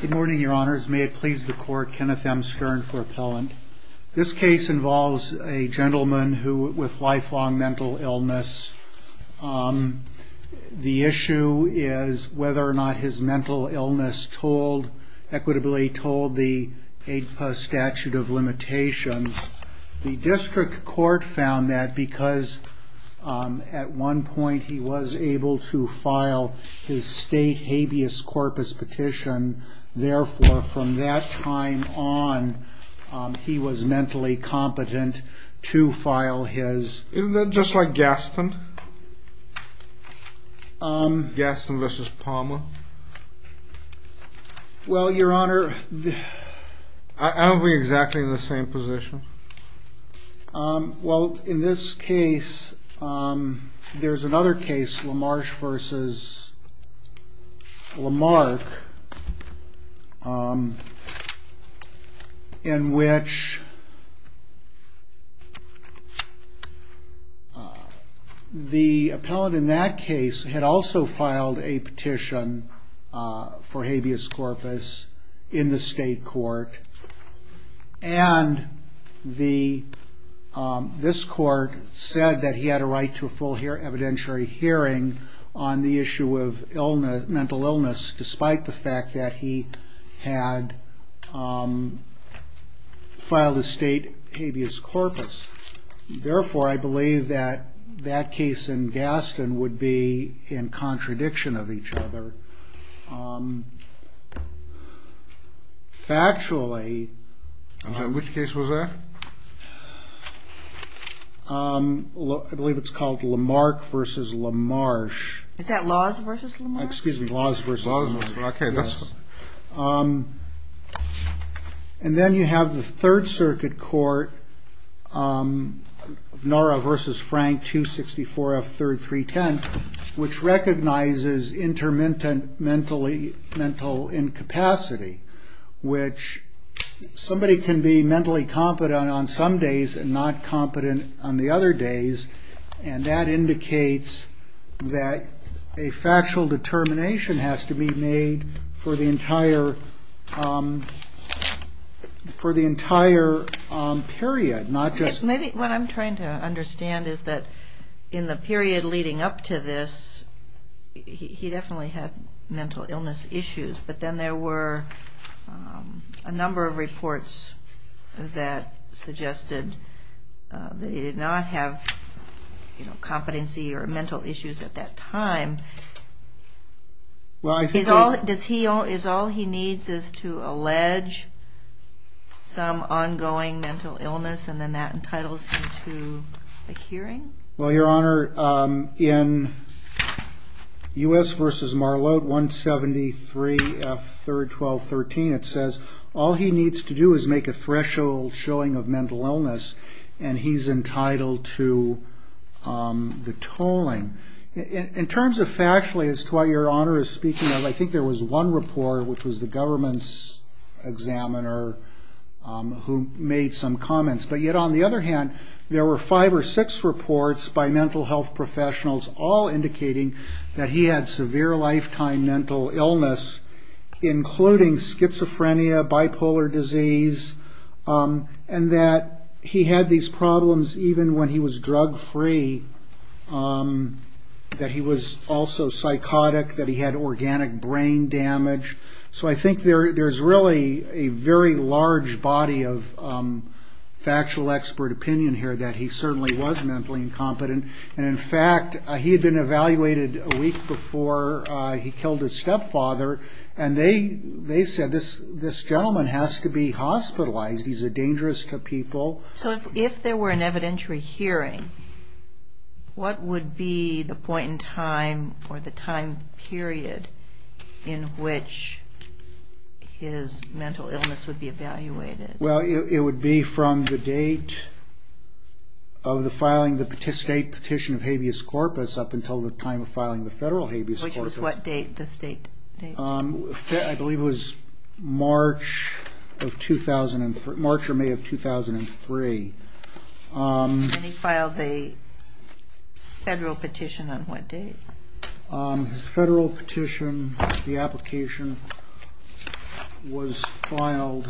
Good morning, your honors. May it please the court, Kenneth M. Stern for appellant. This case involves a gentleman with lifelong mental illness. The issue is whether or not his mental illness equitably told the APA statute of limitations. The district court found that because at one point he was able to file his state habeas corpus petition. Therefore, from that time on, he was mentally competent to file his... Isn't that just like Gaston? Gaston v. Palmer? Well, your honor... Aren't we exactly in the same position? Well, in this case, there's another case, LaMarche v. Lamarck. In which the appellant in that case had also filed a petition for habeas corpus in the state court. And this court said that he had a right to a full evidentiary hearing on the issue of mental illness. Despite the fact that he had filed his state habeas corpus. Therefore, I believe that that case in Gaston would be in contradiction of each other. Factually... Which case was that? I believe it's called Lamarche v. Lamarche. Is that Laws v. Lamarche? Excuse me, Laws v. Lamarche. And then you have the third circuit court, Norah v. Frank, 264 F. 310. Which recognizes inter-mental incapacity. Which somebody can be mentally competent on some days and not competent on the other days. And that indicates that a factual determination has to be made for the entire period. What I'm trying to understand is that in the period leading up to this, he definitely had mental illness issues. But then there were a number of reports that suggested that he did not have competency or mental issues at that time. Is all he needs is to allege some ongoing mental illness and then that entitles him to a hearing? Well, Your Honor, in U.S. v. Marlowe, 173 F. 312.13, it says all he needs to do is make a threshold showing of mental illness. And he's entitled to the tolling. In terms of factually as to what Your Honor is speaking of, I think there was one report which was the government's examiner who made some comments. But yet on the other hand, there were five or six reports by mental health professionals all indicating that he had severe lifetime mental illness. Including schizophrenia, bipolar disease, and that he had these problems even when he was drug free. That he was also psychotic, that he had organic brain damage. So I think there's really a very large body of factual expert opinion here that he certainly was mentally incompetent. And in fact, he had been evaluated a week before he killed his stepfather, and they said this gentleman has to be hospitalized. He's a dangerous to people. So if there were an evidentiary hearing, what would be the point in time or the time period in which his mental illness would be evaluated? Well, it would be from the date of the filing of the state petition of habeas corpus up until the time of filing the federal habeas corpus. Which was what date, the state date? I believe it was March or May of 2003. And he filed the federal petition on what date? His federal petition, the application was filed...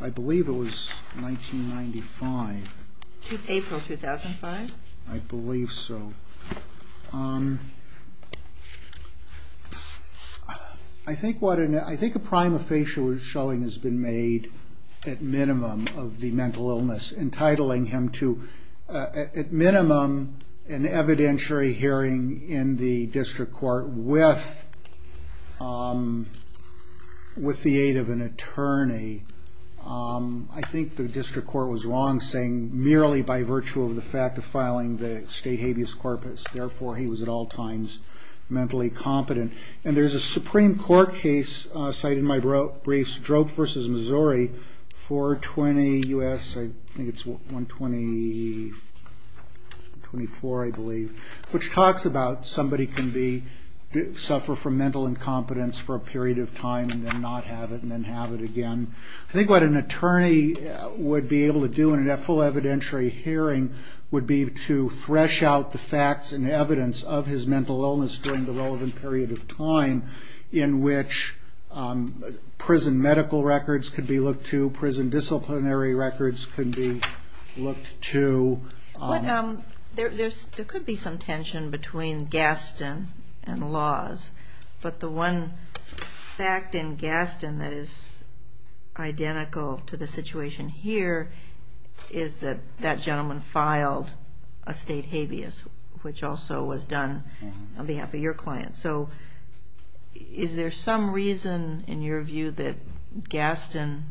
I believe it was 1995. April 2005? I believe so. I think a prime of facial showing has been made at minimum of the mental illness. Entitling him to at minimum an evidentiary hearing in the district court with the aid of an attorney. I think the district court was wrong, saying merely by virtue of the fact of filing the state habeas corpus. Therefore, he was at all times mentally competent. And there's a Supreme Court case cited in my briefs, Drobe v. Missouri, 420 U.S., I think it's 124, I believe. Which talks about somebody can suffer from mental incompetence for a period of time and then not have it and then have it again. I think what an attorney would be able to do in a full evidentiary hearing would be to thresh out the facts and evidence of his mental illness during the relevant period of time. In which prison medical records could be looked to, prison disciplinary records could be looked to. There could be some tension between Gaston and laws. But the one fact in Gaston that is identical to the situation here is that that gentleman filed a state habeas. Which also was done on behalf of your client. So is there some reason in your view that Gaston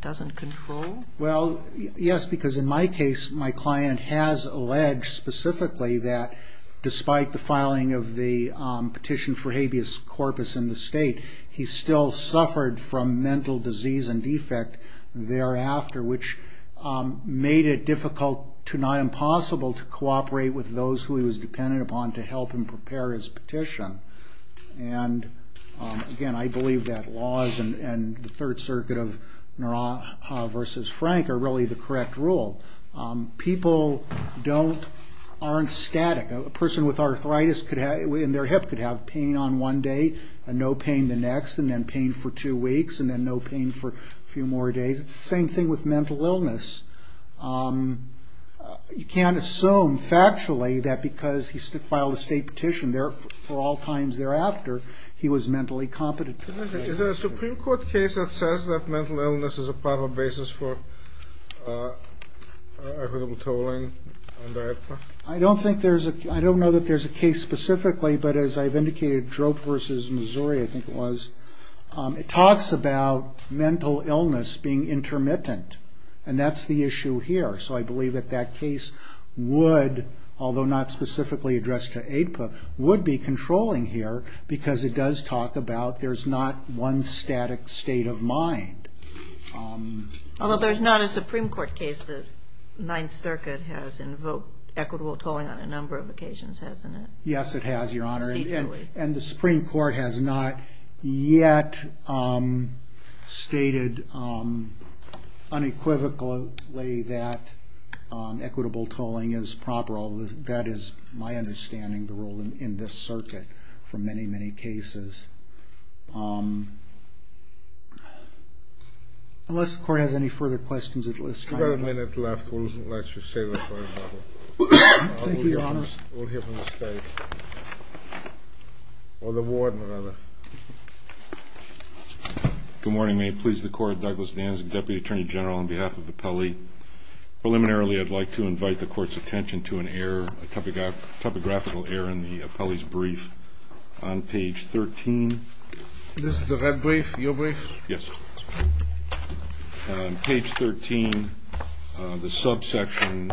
doesn't control? Well, yes, because in my case, my client has alleged specifically that despite the filing of the petition for habeas corpus in the state, he still suffered from mental disease and defect thereafter. Which made it difficult to not impossible to cooperate with those who he was dependent upon to help him prepare his petition. And again, I believe that laws and the third circuit of Neuron v. Frank are really the correct rule. People aren't static. A person with arthritis in their hip could have pain on one day and no pain the next and then pain for two weeks and then no pain for a few more days. It's the same thing with mental illness. You can't assume factually that because he filed a state petition there for all times thereafter, he was mentally competent. Is there a Supreme Court case that says that mental illness is a proper basis for equitable tolling? I don't think there's a I don't know that there's a case specifically, but as I've indicated, Droop v. Missouri, I think it was, it talks about mental illness being intermittent. And that's the issue here. So I believe that that case would, although not specifically addressed to APA, would be controlling here because it does talk about there's not one static state of mind. Although there's not a Supreme Court case, the Ninth Circuit has invoked equitable tolling on a number of occasions, hasn't it? Yes, it has, Your Honor. And the Supreme Court has not yet stated unequivocally that equitable tolling is proper. That is my understanding, the rule in this circuit for many, many cases. Unless the court has any further questions at this time. We have a minute left. Good morning. May it please the court. Douglas Nanzig, Deputy Attorney General on behalf of the Pele. Preliminarily, I'd like to invite the court's attention to an error, a topographical error in the Pele's brief on page 13. This is the red brief, your brief? Yes. Page 13, the subsection,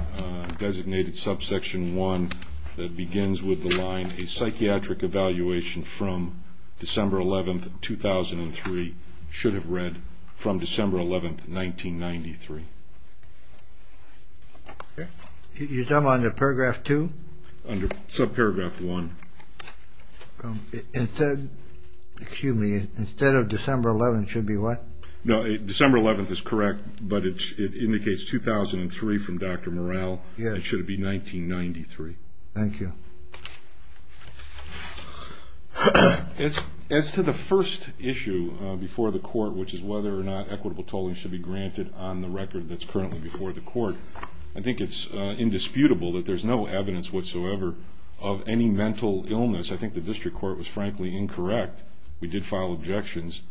designated subsection one that begins with the line, a psychiatric evaluation from December 11th, 2003 should have read from December 11th, 1993. You're talking about under paragraph two? Under subparagraph one. Instead of December 11th, it should be what? No, December 11th is correct, but it indicates 2003 from Dr. Morrell. It should be 1993. Thank you. As to the first issue before the court, which is whether or not equitable tolling should be granted on the record that's currently before the court, I think it's indisputable that there's no evidence whatsoever of any mental illness. I think the district court was frankly incorrect. We did file objections.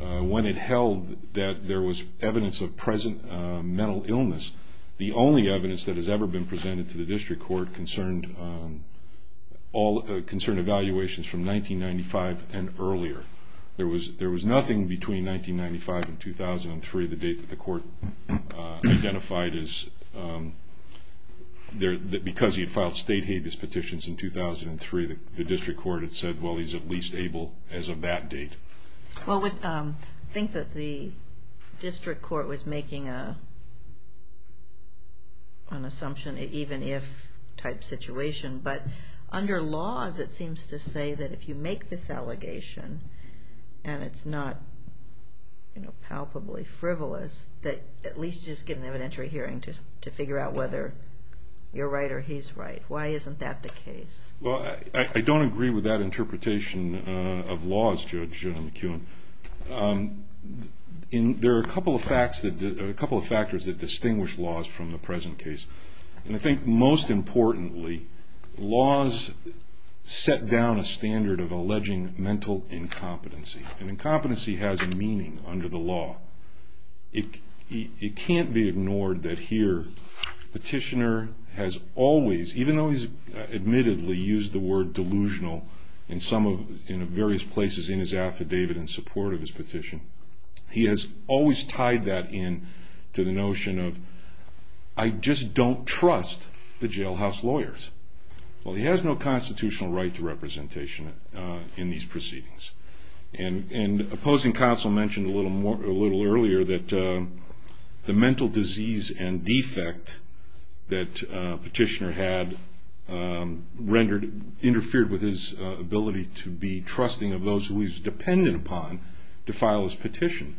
When it held that there was evidence of present mental illness, the only evidence that has ever been presented to the district court concerned evaluations from 1995 and earlier. There was nothing between 1995 and 2003, the date that the court identified as, because he had filed state habeas petitions in 2003, the district court had said, well, he's at least able as of that date. I think that the district court was making an assumption, an even-if type situation, but under laws, it seems to say that if you make this allegation, and it's not palpably frivolous, that at least you just get an evidentiary hearing to figure out whether you're right or he's right. Why isn't that the case? I don't agree with that interpretation of laws, Judge McKeown. There are a couple of factors that distinguish laws from the present case. I think most importantly, laws set down a standard of alleging mental incompetency. Incompetency has a meaning under the law. It can't be ignored that here, the petitioner has always, even though he's admittedly used the word delusional in various places in his affidavit in support of his petition, he has always tied that in to the notion of, I just don't trust the jailhouse lawyers. Well, he has no constitutional right to representation in these proceedings. Opposing counsel mentioned a little earlier that the mental disease and defect that Petitioner had interfered with his ability to be trusting of those who he's dependent upon to file his petition.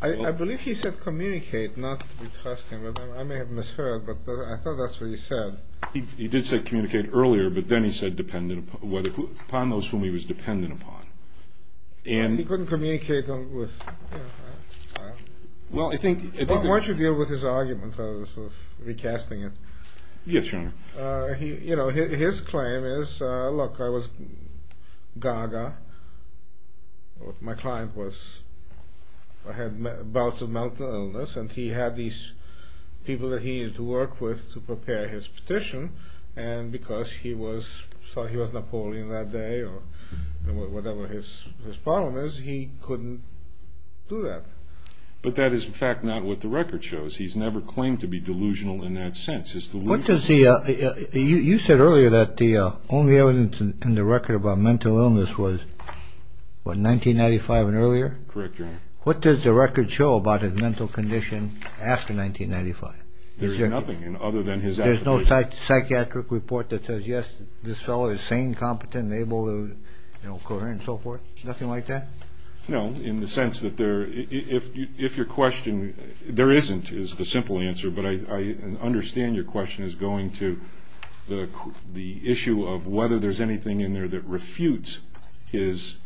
I believe he said communicate, not to be trusting. I may have misheard, but I thought that's what he said. He did say communicate earlier, but then he said upon those whom he was dependent upon. He couldn't communicate with... Why don't you deal with his argument rather than recasting it? Yes, Your Honor. His claim is, look, I was gaga. My client had bouts of mental illness, and he had these people that he needed to work with to prepare his petition, and because he was Napoleon that day or whatever his problem is, he couldn't do that. But that is, in fact, not what the record shows. He's never claimed to be delusional in that sense. You said earlier that the only evidence in the record about mental illness was, what, 1995 and earlier? Correct, Your Honor. What does the record show about his mental condition after 1995? There's nothing other than his affidavit. There's no psychiatric report that says, yes, this fellow is sane, competent, able, coherent, and so forth? Nothing like that? No, in the sense that if your question, there isn't is the simple answer, but I understand your question is going to the issue of whether there's anything in there that refutes his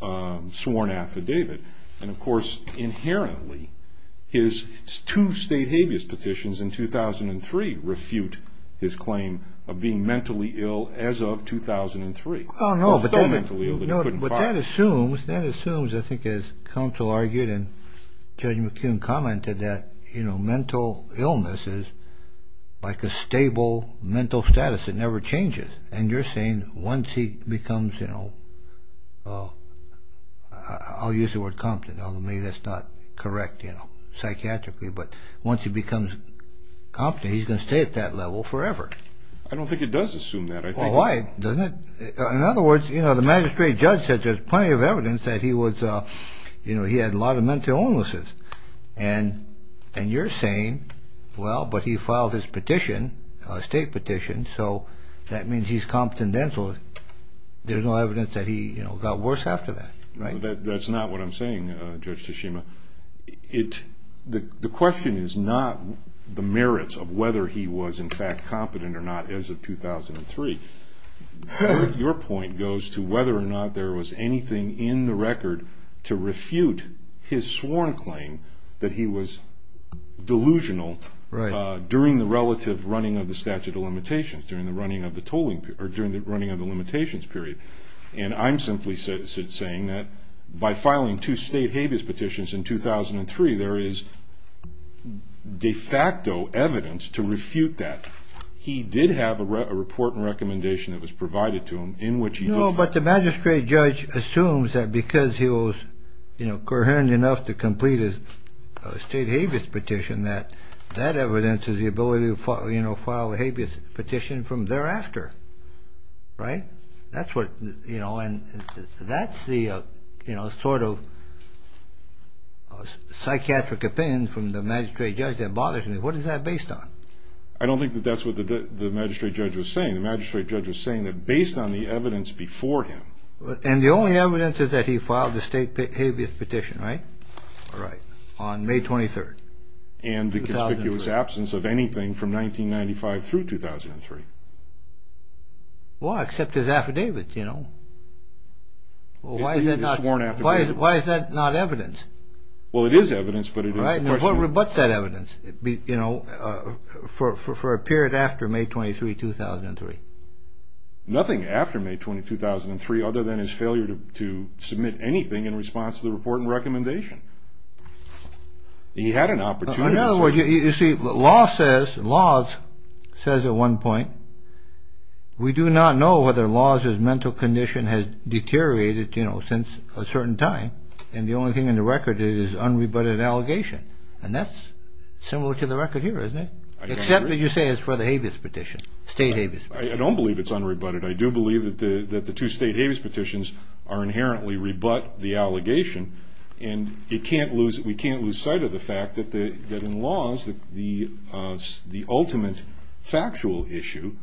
sworn affidavit. And, of course, inherently, his two state habeas petitions in 2003 refute his claim of being mentally ill as of 2003. Well, no, but that assumes, I think as counsel argued and Judge McKeown commented, that mental illness is like a stable mental status. It never changes. And you're saying once he becomes, you know, I'll use the word competent, although maybe that's not correct, you know, psychiatrically, but once he becomes competent, he's going to stay at that level forever. I don't think it does assume that. Well, why doesn't it? In other words, you know, the magistrate judge said there's plenty of evidence that he was, you know, he had a lot of mental illnesses. And you're saying, well, but he filed his petition, a state petition, so that means he's competent dental. There's no evidence that he, you know, got worse after that, right? That's not what I'm saying, Judge Tashima. The question is not the merits of whether he was, in fact, competent or not as of 2003. Your point goes to whether or not there was anything in the record to refute his sworn claim that he was delusional. Right. During the relative running of the statute of limitations, during the running of the limitations period. And I'm simply saying that by filing two state habeas petitions in 2003, there is de facto evidence to refute that. He did have a report and recommendation that was provided to him in which he did. No, but the magistrate judge assumes that because he was, you know, coherent enough to complete his state habeas petition, that that evidence is the ability to, you know, file a habeas petition from thereafter. Right. That's what, you know, and that's the, you know, sort of psychiatric opinion from the magistrate judge that bothers me. What is that based on? I don't think that that's what the magistrate judge was saying. The magistrate judge was saying that based on the evidence before him. And the only evidence is that he filed the state habeas petition, right? Right. On May 23rd, 2003. And the conspicuous absence of anything from 1995 through 2003. Well, except his affidavits, you know. His sworn affidavits. Why is that not evidence? Well, it is evidence, but it is questionable. Right, and the court rebuts that evidence, you know, for a period after May 23rd, 2003. Nothing after May 23rd, 2003 other than his failure to submit anything in response to the report and recommendation. He had an opportunity. In other words, you see, law says, laws says at one point, we do not know whether laws as mental condition has deteriorated, you know, since a certain time. And the only thing in the record is unrebutted allegation. And that's similar to the record here, isn't it? Except that you say it's for the habeas petition, state habeas petition. I don't believe it's unrebutted. I do believe that the two state habeas petitions are inherently rebut the allegation. And we can't lose sight of the fact that in laws, the ultimate factual issue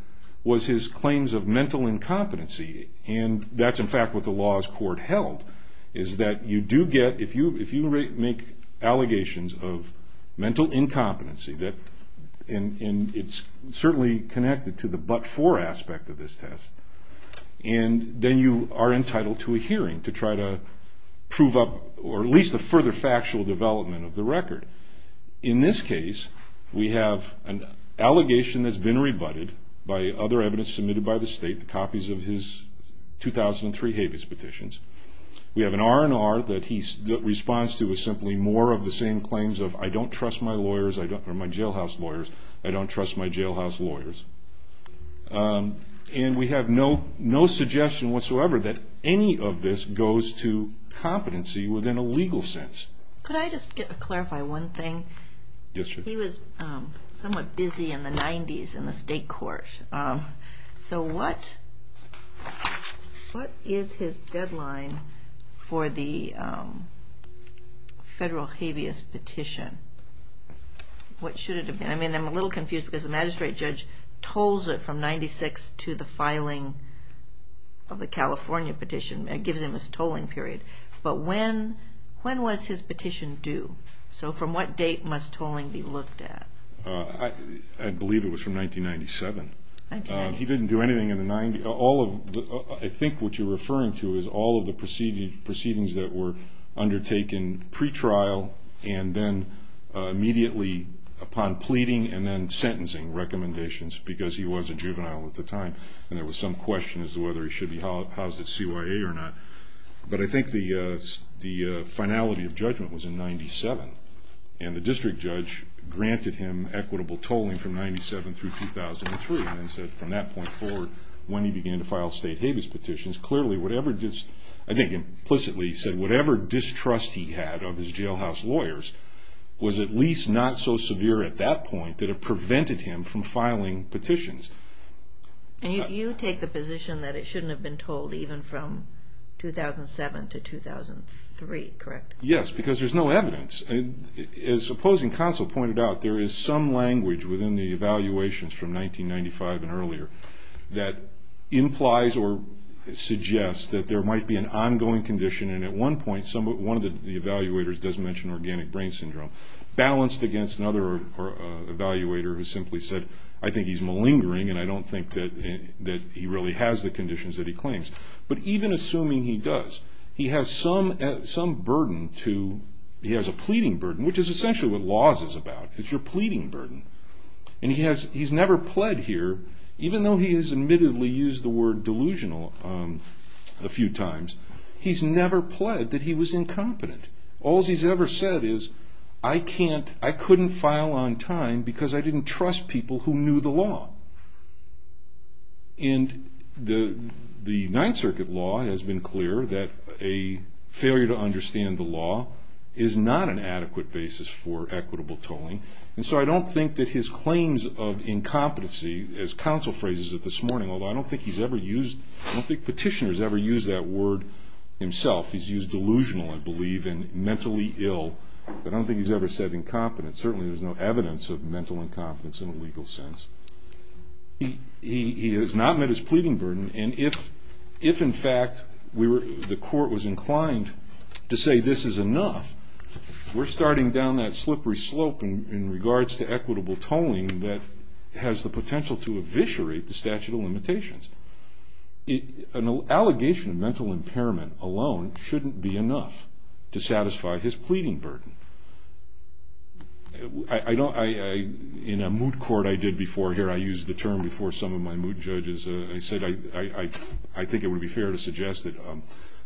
was his claims of mental incompetency. And that's, in fact, what the laws court held, is that you do get, if you make allegations of mental incompetency, and it's certainly connected to the but-for aspect of this test, and then you are entitled to a hearing to try to prove up, or at least a further factual development of the record. In this case, we have an allegation that's been rebutted by other evidence submitted by the state, the copies of his 2003 habeas petitions. We have an R&R that he responds to as simply more of the same claims of, I don't trust my jailhouse lawyers, I don't trust my jailhouse lawyers. And we have no suggestion whatsoever that any of this goes to competency within a legal sense. Could I just clarify one thing? Yes, sure. He was somewhat busy in the 90s in the state court. So what is his deadline for the federal habeas petition? What should it have been? I mean, I'm a little confused because the magistrate judge tolls it from 1996 to the filing of the California petition. It gives him his tolling period. But when was his petition due? So from what date must tolling be looked at? I believe it was from 1997. He didn't do anything in the 90s. I think what you're referring to is all of the proceedings that were undertaken pretrial and then immediately upon pleading and then sentencing recommendations because he was a juvenile at the time, and there was some question as to whether he should be housed at CYA or not. But I think the finality of judgment was in 97, and the district judge granted him equitable tolling from 97 through 2003 and then said from that point forward when he began to file state habeas petitions, clearly whatever distrust he had of his jailhouse lawyers was at least not so severe at that point that it prevented him from filing petitions. And you take the position that it shouldn't have been tolled even from 2007 to 2003, correct? Yes, because there's no evidence. As opposing counsel pointed out, there is some language within the evaluations from 1995 and earlier that implies or suggests that there might be an ongoing condition, and at one point one of the evaluators does mention organic brain syndrome, balanced against another evaluator who simply said, I think he's malingering and I don't think that he really has the conditions that he claims. But even assuming he does, he has a pleading burden, which is essentially what laws is about. It's your pleading burden. And he's never pled here, even though he has admittedly used the word delusional a few times, he's never pled that he was incompetent. All he's ever said is, I couldn't file on time because I didn't trust people who knew the law. And the Ninth Circuit law has been clear that a failure to understand the law is not an adequate basis for equitable tolling. And so I don't think that his claims of incompetency, as counsel phrases it this morning, although I don't think he's ever used, I don't think petitioners ever used that word himself. He's used delusional, I believe, and mentally ill. I don't think he's ever said incompetent. Certainly there's no evidence of mental incompetence in a legal sense. He has not met his pleading burden, and if in fact the court was inclined to say this is enough, we're starting down that slippery slope in regards to equitable tolling that has the potential to eviscerate the statute of limitations. An allegation of mental impairment alone shouldn't be enough to satisfy his pleading burden. In a moot court I did before here, I used the term before some of my moot judges, I said I think it would be fair to suggest that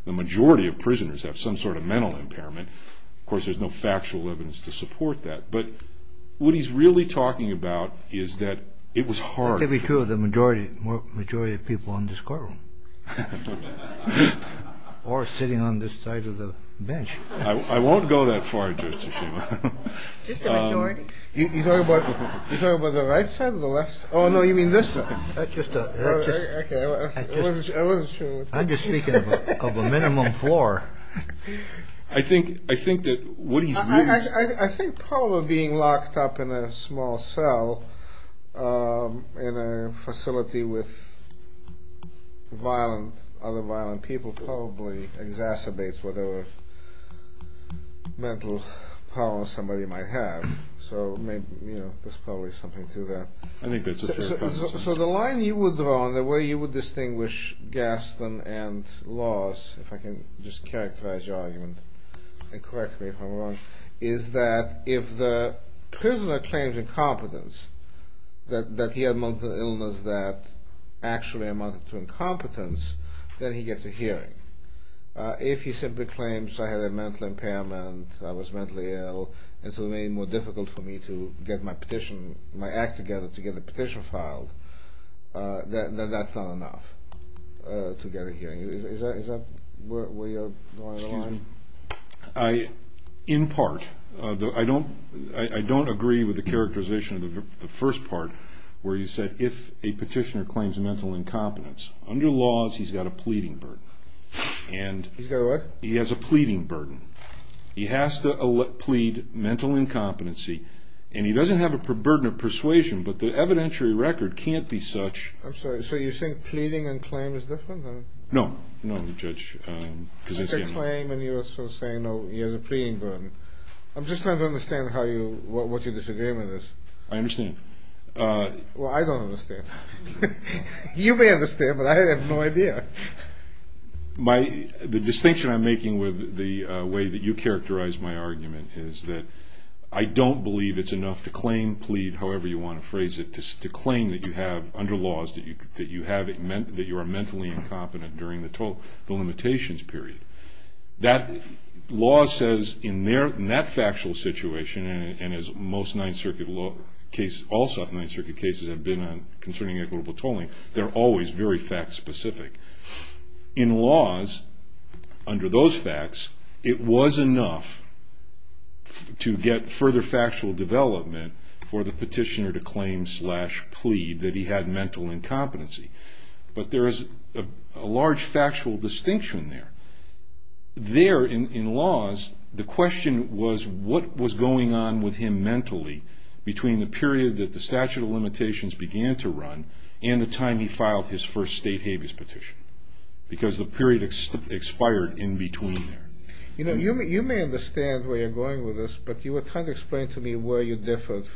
the majority of prisoners have some sort of mental impairment. Of course, there's no factual evidence to support that. But what he's really talking about is that it was hard. It could be true of the majority of people in this courtroom, or sitting on this side of the bench. I won't go that far, Judge Tsushima. Just the majority? You're talking about the right side or the left side? Oh, no, you mean this side. Okay, I wasn't sure. I'm just speaking of a minimum floor. I think that what he's used... I think probably being locked up in a small cell in a facility with other violent people probably exacerbates whatever mental power somebody might have. So there's probably something to that. So the line you would draw and the way you would distinguish Gaston and laws, if I can just characterize your argument and correct me if I'm wrong, is that if the prisoner claims incompetence, that he had a mental illness that actually amounted to incompetence, then he gets a hearing. If he simply claims, I had a mental impairment, I was mentally ill, and so it made it more difficult for me to get my petition, my act together to get the petition filed, then that's not enough to get a hearing. Is that where you're drawing the line? In part. I don't agree with the characterization of the first part where you said if a petitioner claims mental incompetence, under laws he's got a pleading burden. He's got a what? He has a pleading burden. He has to plead mental incompetency, and he doesn't have a burden of persuasion, but the evidentiary record can't be such... I'm sorry, so you think pleading and claim is different? No, no, Judge, because... He has a claim and you're saying he has a pleading burden. I'm just trying to understand what your disagreement is. I understand. Well, I don't understand. You may understand, but I have no idea. The distinction I'm making with the way that you characterized my argument is that I don't believe it's enough to claim, plead, however you want to phrase it, to claim that you have, under laws, that you are mentally incompetent during the limitations period. That law says in that factual situation, and as most Ninth Circuit cases have been concerning equitable tolling, they're always very fact-specific. In laws, under those facts, it was enough to get further factual development for the petitioner to claim slash plead that he had mental incompetency. But there is a large factual distinction there. There, in laws, the question was what was going on with him mentally between the period that the statute of limitations began to run and the time he filed his first state habeas petition, because the period expired in between there. You know, you may understand where you're going with this, but you were trying to explain to me where you differed.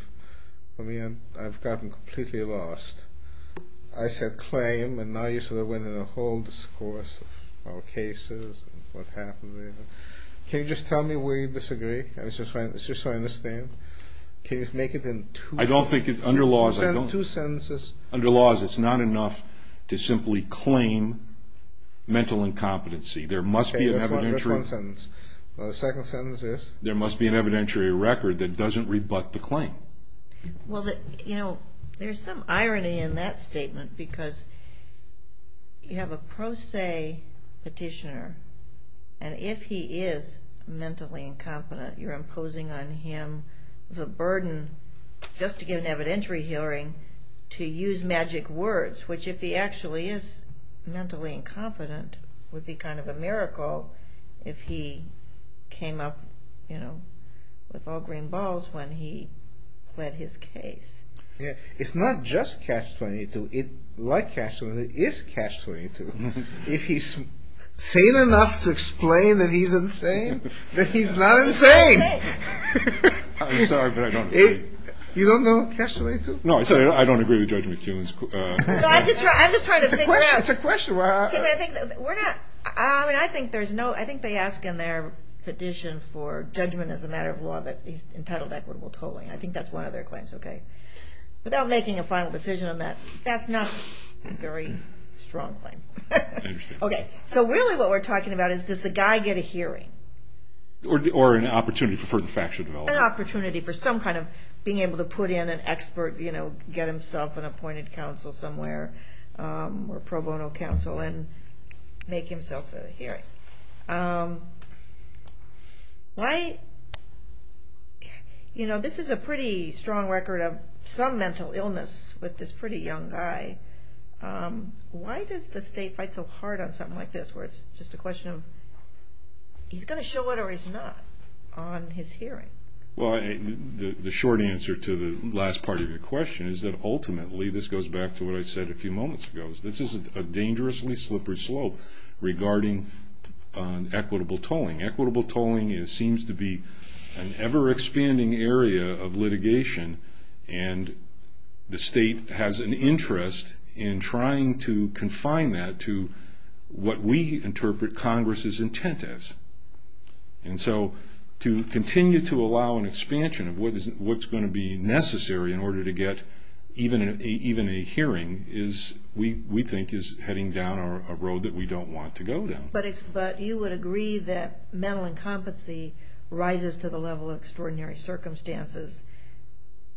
I mean, I've gotten completely lost. I said claim, and now you sort of went into a whole discourse of cases and what happened there. Can you just tell me where you disagree? It's just so I understand. Can you make it in two sentences? Under laws, it's not enough to simply claim mental incompetency. There must be an evidentiary record that doesn't rebut the claim. Well, you know, there's some irony in that statement because you have a pro se petitioner, and if he is mentally incompetent, you're imposing on him the burden just to get an evidentiary hearing to use magic words, which if he actually is mentally incompetent would be kind of a miracle if he came up with all green balls when he pled his case. It's not just Catch-22. Like Catch-22, it is Catch-22. If he's sane enough to explain that he's insane, then he's not insane. I'm sorry, but I don't agree. You don't know Catch-22? No, I said I don't agree with Judge McEwen's claim. It's a question. I think they ask in their petition for judgment as a matter of law that he's entitled to equitable tolling. I think that's one of their claims. Without making a final decision on that, that's not a very strong claim. So really what we're talking about is does the guy get a hearing? Or an opportunity for factual development. An opportunity for some kind of being able to put in an expert, get himself an appointed counsel somewhere or pro bono counsel and make himself a hearing. This is a pretty strong record of some mental illness with this pretty young guy. Why does the state fight so hard on something like this where it's just a question of he's going to show up or he's not on his hearing? The short answer to the last part of your question is that ultimately this goes back to what I said a few moments ago. This is a dangerously slippery slope regarding equitable tolling. Equitable tolling seems to be an ever-expanding area of litigation, and the state has an interest in trying to confine that to what we interpret Congress's intent as. And so to continue to allow an expansion of what's going to be necessary in order to get even a hearing is, we think, is heading down a road that we don't want to go down. But you would agree that mental incompetency rises to the level of extraordinary circumstances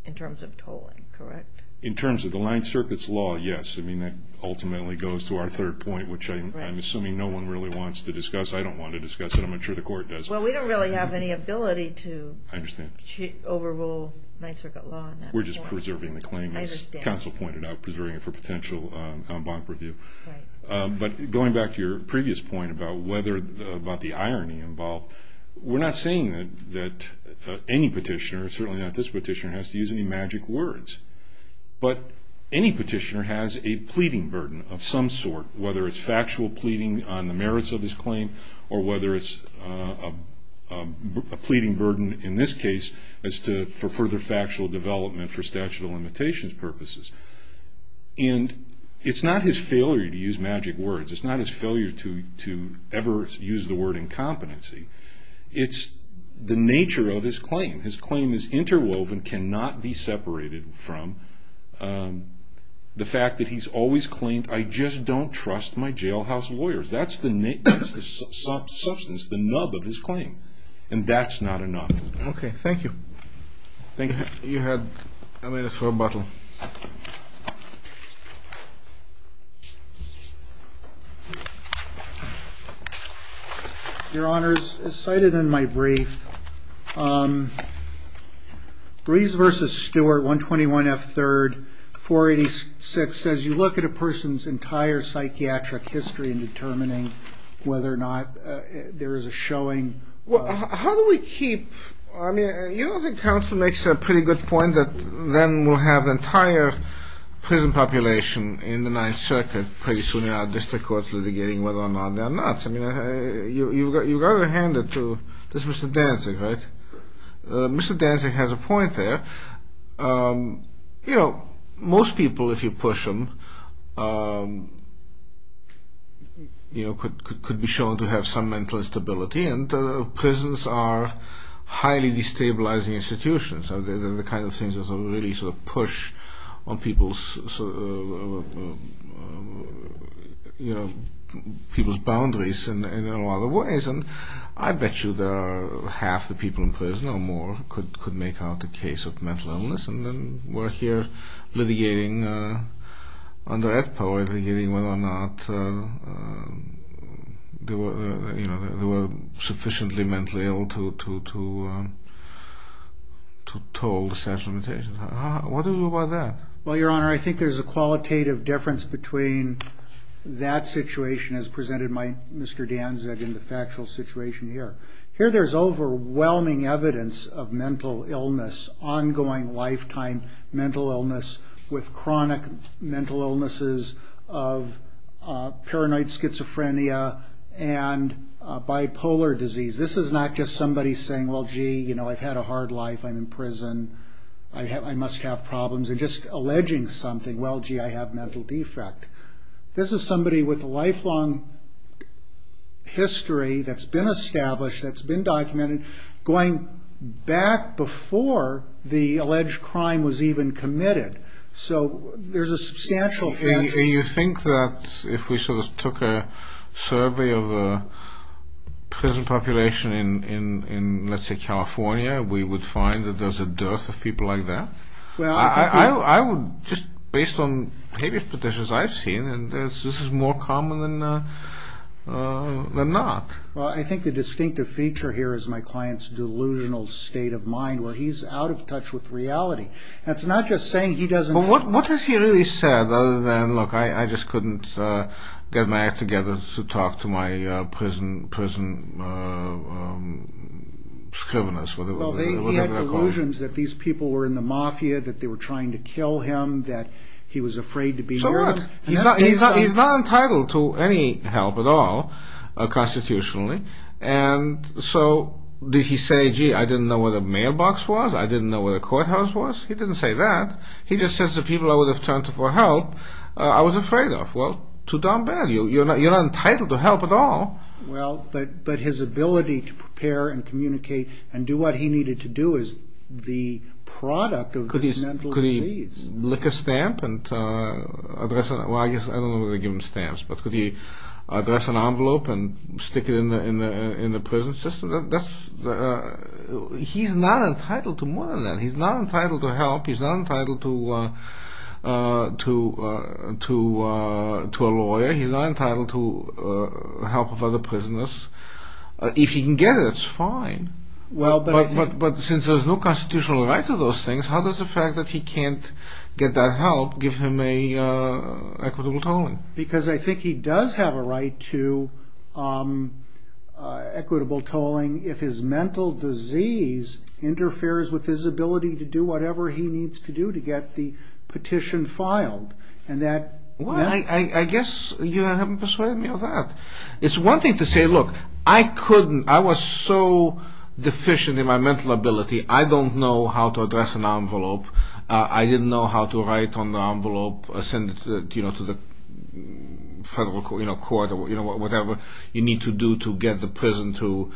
in terms of tolling, correct? In terms of the line circuits law, yes. I mean, that ultimately goes to our third point, which I'm assuming no one really wants to discuss. I don't want to discuss it. I'm not sure the court does. Well, we don't really have any ability to overrule line circuit law. We're just preserving the claim, as counsel pointed out, preserving it for potential bond review. But going back to your previous point about the irony involved, we're not saying that any petitioner, certainly not this petitioner, has to use any magic words. But any petitioner has a pleading burden of some sort, whether it's factual pleading on the merits of his claim or whether it's a pleading burden, in this case, as to further factual development for statute of limitations purposes. And it's not his failure to use magic words. It's not his failure to ever use the word incompetency. It's the nature of his claim. His claim is interwoven, cannot be separated from the fact that he's always claimed, I just don't trust my jailhouse lawyers. That's the substance, the nub of his claim. And that's not enough. Okay. Thank you. Thank you. You have ten minutes for rebuttal. Your Honors, as cited in my brief, Brees v. Stewart, 121 F. 3rd, 486, says you look at a person's entire psychiatric history in determining whether or not there is a showing. Well, how do we keep, I mean, you don't think counsel makes a pretty good point that then we'll have the entire prison population in the Ninth Circuit pretty soon in our district courts litigating whether or not they're nuts. You've got to hand it to Mr. Danzig, right? Mr. Danzig has a point there. Most people, if you push them, could be shown to have some mental instability, and prisons are highly destabilizing institutions. The kind of things that really sort of push on people's boundaries in a lot of ways. And I bet you that half the people in prison or more could make out a case of mental illness and then we're here litigating under that power, litigating whether or not they were sufficiently mentally ill to toll the statute of limitations. What do we do about that? Well, Your Honor, I think there's a qualitative difference between that situation, as presented by Mr. Danzig, and the factual situation here. Here there's overwhelming evidence of mental illness, ongoing lifetime mental illness, with chronic mental illnesses of paranoid schizophrenia and bipolar disease. This is not just somebody saying, well, gee, I've had a hard life, I'm in prison, I must have problems, and just alleging something, well, gee, I have a mental defect. This is somebody with a lifelong history that's been established, that's been documented, and going back before the alleged crime was even committed. So there's a substantial... And you think that if we sort of took a survey of the prison population in, let's say, California, we would find that there's a dearth of people like that? I would just, based on previous petitions I've seen, this is more common than not. Well, I think the distinctive feature here is my client's delusional state of mind, where he's out of touch with reality. That's not just saying he doesn't... Well, what has he really said, other than, look, I just couldn't get my act together to talk to my prison scriveners? Well, he had delusions that these people were in the mafia, that they were trying to kill him, that he was afraid to be heard. He's not entitled to any help at all, constitutionally. And so did he say, gee, I didn't know where the mailbox was, I didn't know where the courthouse was? He didn't say that. He just says the people I would have turned to for help I was afraid of. Well, too darn bad. You're not entitled to help at all. Well, but his ability to prepare and communicate and do what he needed to do is the product of this mental disease. Could he lick a stamp and address it? Well, I don't know whether to give him stamps, but could he address an envelope and stick it in the prison system? He's not entitled to more than that. He's not entitled to help. He's not entitled to a lawyer. He's not entitled to the help of other prisoners. If he can get it, it's fine. But since there's no constitutional right to those things, how does the fact that he can't get that help give him equitable tolling? Because I think he does have a right to equitable tolling if his mental disease interferes with his ability to do whatever he needs to do to get the petition filed. Well, I guess you haven't persuaded me of that. It's one thing to say, look, I couldn't, I was so deficient in my mental ability, I don't know how to address an envelope. I didn't know how to write on the envelope, send it to the federal court, whatever you need to do to get the prison to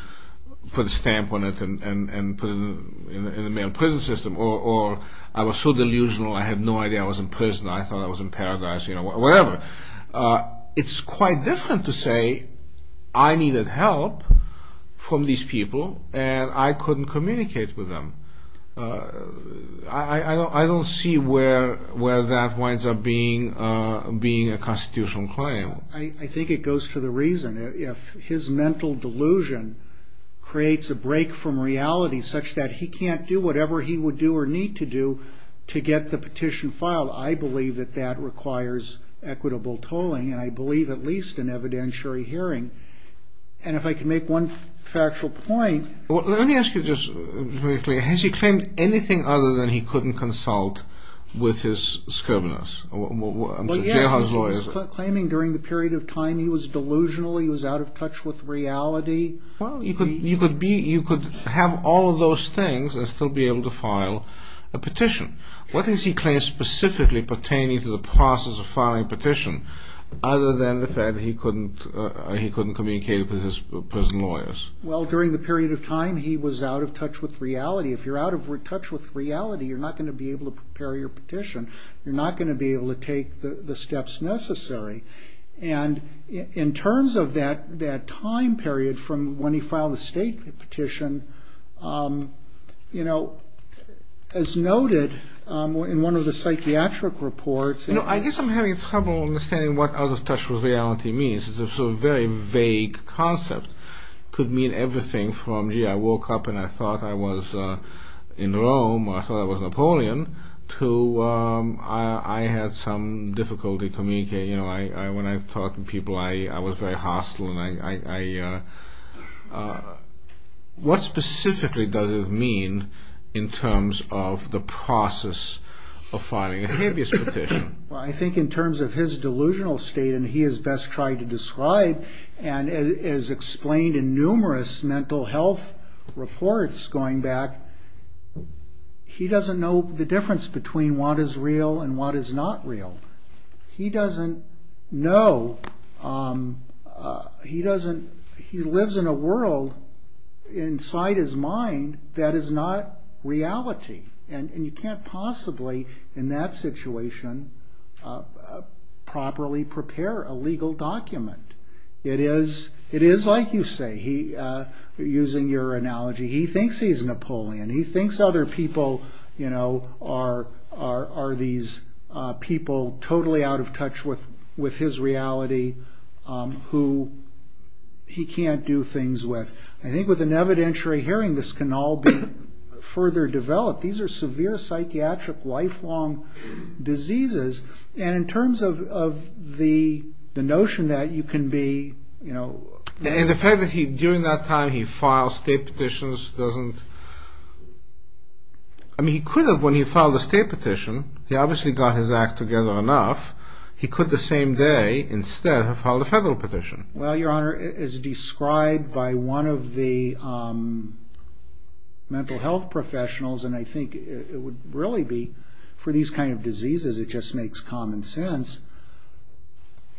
put a stamp on it and put it in the prison system. Or I was so delusional, I had no idea I was in prison. I thought I was in paradise, whatever. It's quite different to say, I needed help from these people and I couldn't communicate with them. I don't see where that winds up being a constitutional claim. I think it goes to the reason, if his mental delusion creates a break from reality such that he can't do whatever he would do or need to do to get the petition filed, I believe that that requires equitable tolling, and I believe at least in evidentiary hearing. And if I could make one factual point. Let me ask you just briefly, has he claimed anything other than he couldn't consult with his scriveners? Well, yes, he was claiming during the period of time he was delusional, he was out of touch with reality. Well, you could have all of those things and still be able to file a petition. Other than the fact that he couldn't communicate with his prison lawyers. Well, during the period of time he was out of touch with reality. If you're out of touch with reality, you're not going to be able to prepare your petition. You're not going to be able to take the steps necessary. And in terms of that time period from when he filed the state petition, you know, as noted in one of the psychiatric reports. I guess I'm having trouble understanding what out of touch with reality means. It's a very vague concept. It could mean everything from, gee, I woke up and I thought I was in Rome, or I thought I was Napoleon, to I had some difficulty communicating. When I talked to people, I was very hostile. What specifically does it mean in terms of the process of filing a habeas petition? Well, I think in terms of his delusional state, and he has best tried to describe and has explained in numerous mental health reports going back, he doesn't know the difference between what is real and what is not real. He doesn't know. He lives in a world inside his mind that is not reality, and you can't possibly in that situation properly prepare a legal document. It is like you say, using your analogy, he thinks he's Napoleon. He thinks other people are these people totally out of touch with his reality who he can't do things with. I think with an evidentiary hearing, this can all be further developed. These are severe psychiatric lifelong diseases, and in terms of the notion that you can be, you know. And the fact that during that time he filed state petitions doesn't, I mean he could have when he filed a state petition. He obviously got his act together enough. He could the same day instead have filed a federal petition. Well, Your Honor, as described by one of the mental health professionals, and I think it would really be for these kind of diseases, it just makes common sense,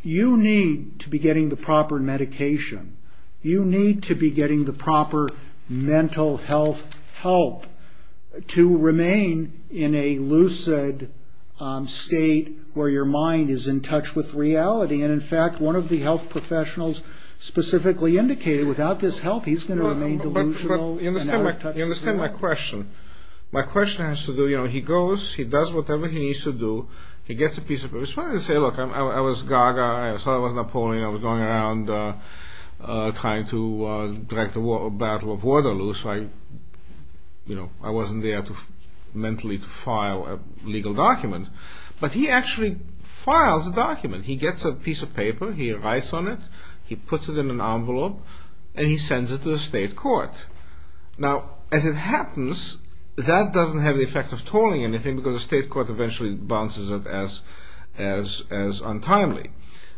you need to be getting the proper medication. You need to be getting the proper mental health help to remain in a lucid state where your mind is in touch with reality. And in fact, one of the health professionals specifically indicated without this help, he's going to remain delusional and out of touch with reality. You understand my question. My question has to do, you know, he goes, he does whatever he needs to do. He gets a piece of paper. It's funny to say, look, I was gaga. I thought I was Napoleon. I was going around trying to direct the Battle of Waterloo, so I, you know, I wasn't there mentally to file a legal document. But he actually files a document. He gets a piece of paper. He writes on it. He puts it in an envelope, and he sends it to the state court. Now, as it happens, that doesn't have the effect of tolling anything because the state court eventually bounces it as untimely.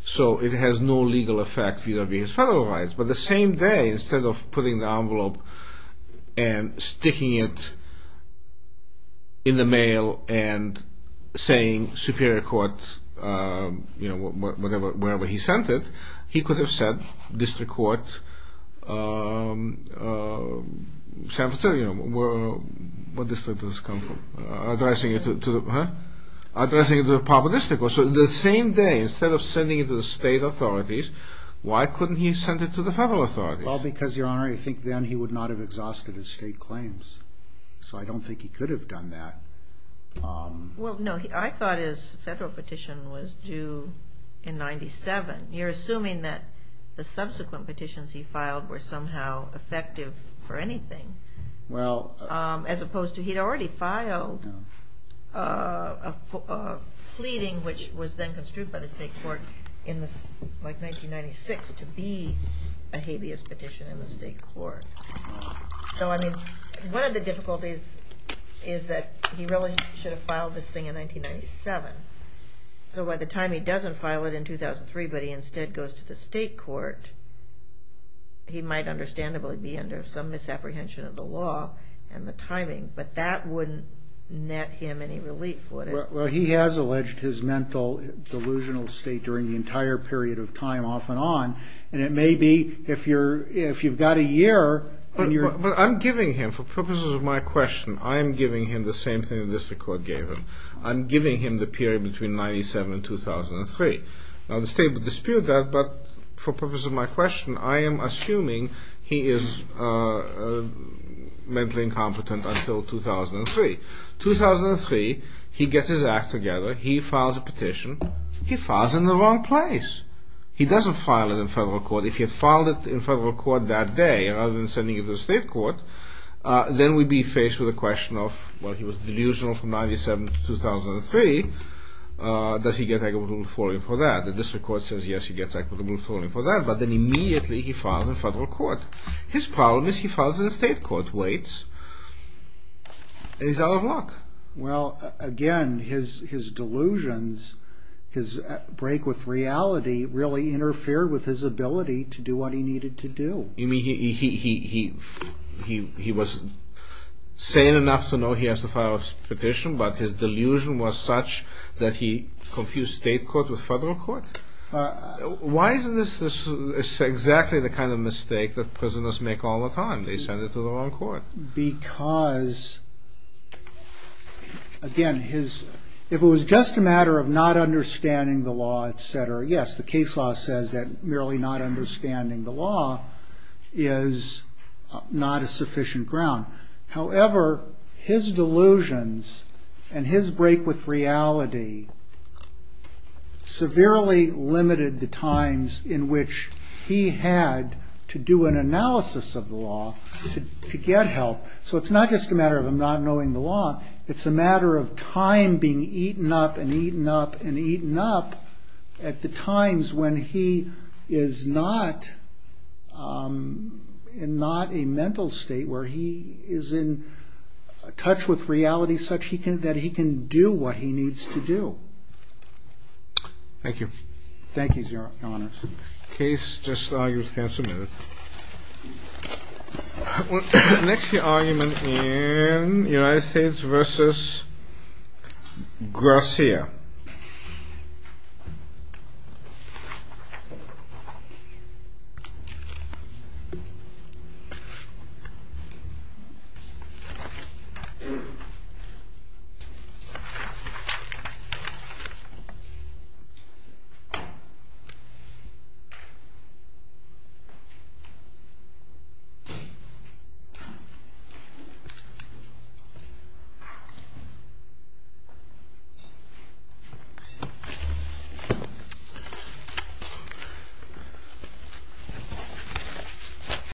So it has no legal effect vis-à-vis his federal rights. But the same day, instead of putting the envelope and sticking it in the mail and saying Superior Court, you know, wherever he sent it, he could have said District Court, San Francisco, you know, what district does this come from? Addressing it to the, huh? Addressing it to the public district. So the same day, instead of sending it to the state authorities, why couldn't he send it to the federal authorities? Well, because, Your Honor, I think then he would not have exhausted his state claims. So I don't think he could have done that. Well, no, I thought his federal petition was due in 97. You're assuming that the subsequent petitions he filed were somehow effective for anything. Well. As opposed to he'd already filed a pleading, which was then construed by the state court in 1996 to be a habeas petition in the state court. So, I mean, one of the difficulties is that he really should have filed this thing in 1997. So by the time he doesn't file it in 2003, but he instead goes to the state court, he might understandably be under some misapprehension of the law and the timing. But that wouldn't net him any relief would it? Well, he has alleged his mental delusional state during the entire period of time off and on. And it may be if you've got a year and you're... But I'm giving him, for purposes of my question, I'm giving him the same thing the district court gave him. I'm giving him the period between 97 and 2003. Now the state would dispute that, but for purposes of my question, I am assuming he is mentally incompetent until 2003. 2003, he gets his act together. He files a petition. He files it in the wrong place. He doesn't file it in federal court. If he had filed it in federal court that day, rather than sending it to the state court, then we'd be faced with the question of, well, he was delusional from 97 to 2003. Does he get equitable foiling for that? The district court says yes, he gets equitable foiling for that, but then immediately he files in federal court. His problem is he files in the state court, waits, and he's out of luck. Well, again, his delusions, his break with reality, really interfere with his ability to do what he needed to do. You mean he was sane enough to know he has to file his petition, but his delusion was such that he confused state court with federal court? Why is this exactly the kind of mistake that prisoners make all the time? They send it to the wrong court. Because, again, if it was just a matter of not understanding the law, et cetera, yes, the case law says that merely not understanding the law is not a sufficient ground. However, his delusions and his break with reality severely limited the times in which he had to do an analysis of the law to get help. So it's not just a matter of him not knowing the law. It's a matter of time being eaten up and eaten up and eaten up at the times when he is not in a mental state, where he is in touch with reality such that he can do what he needs to do. Thank you. Thank you, Your Honor. The case just now stands submitted. Next, the argument in United States v. Garcia. Thank you.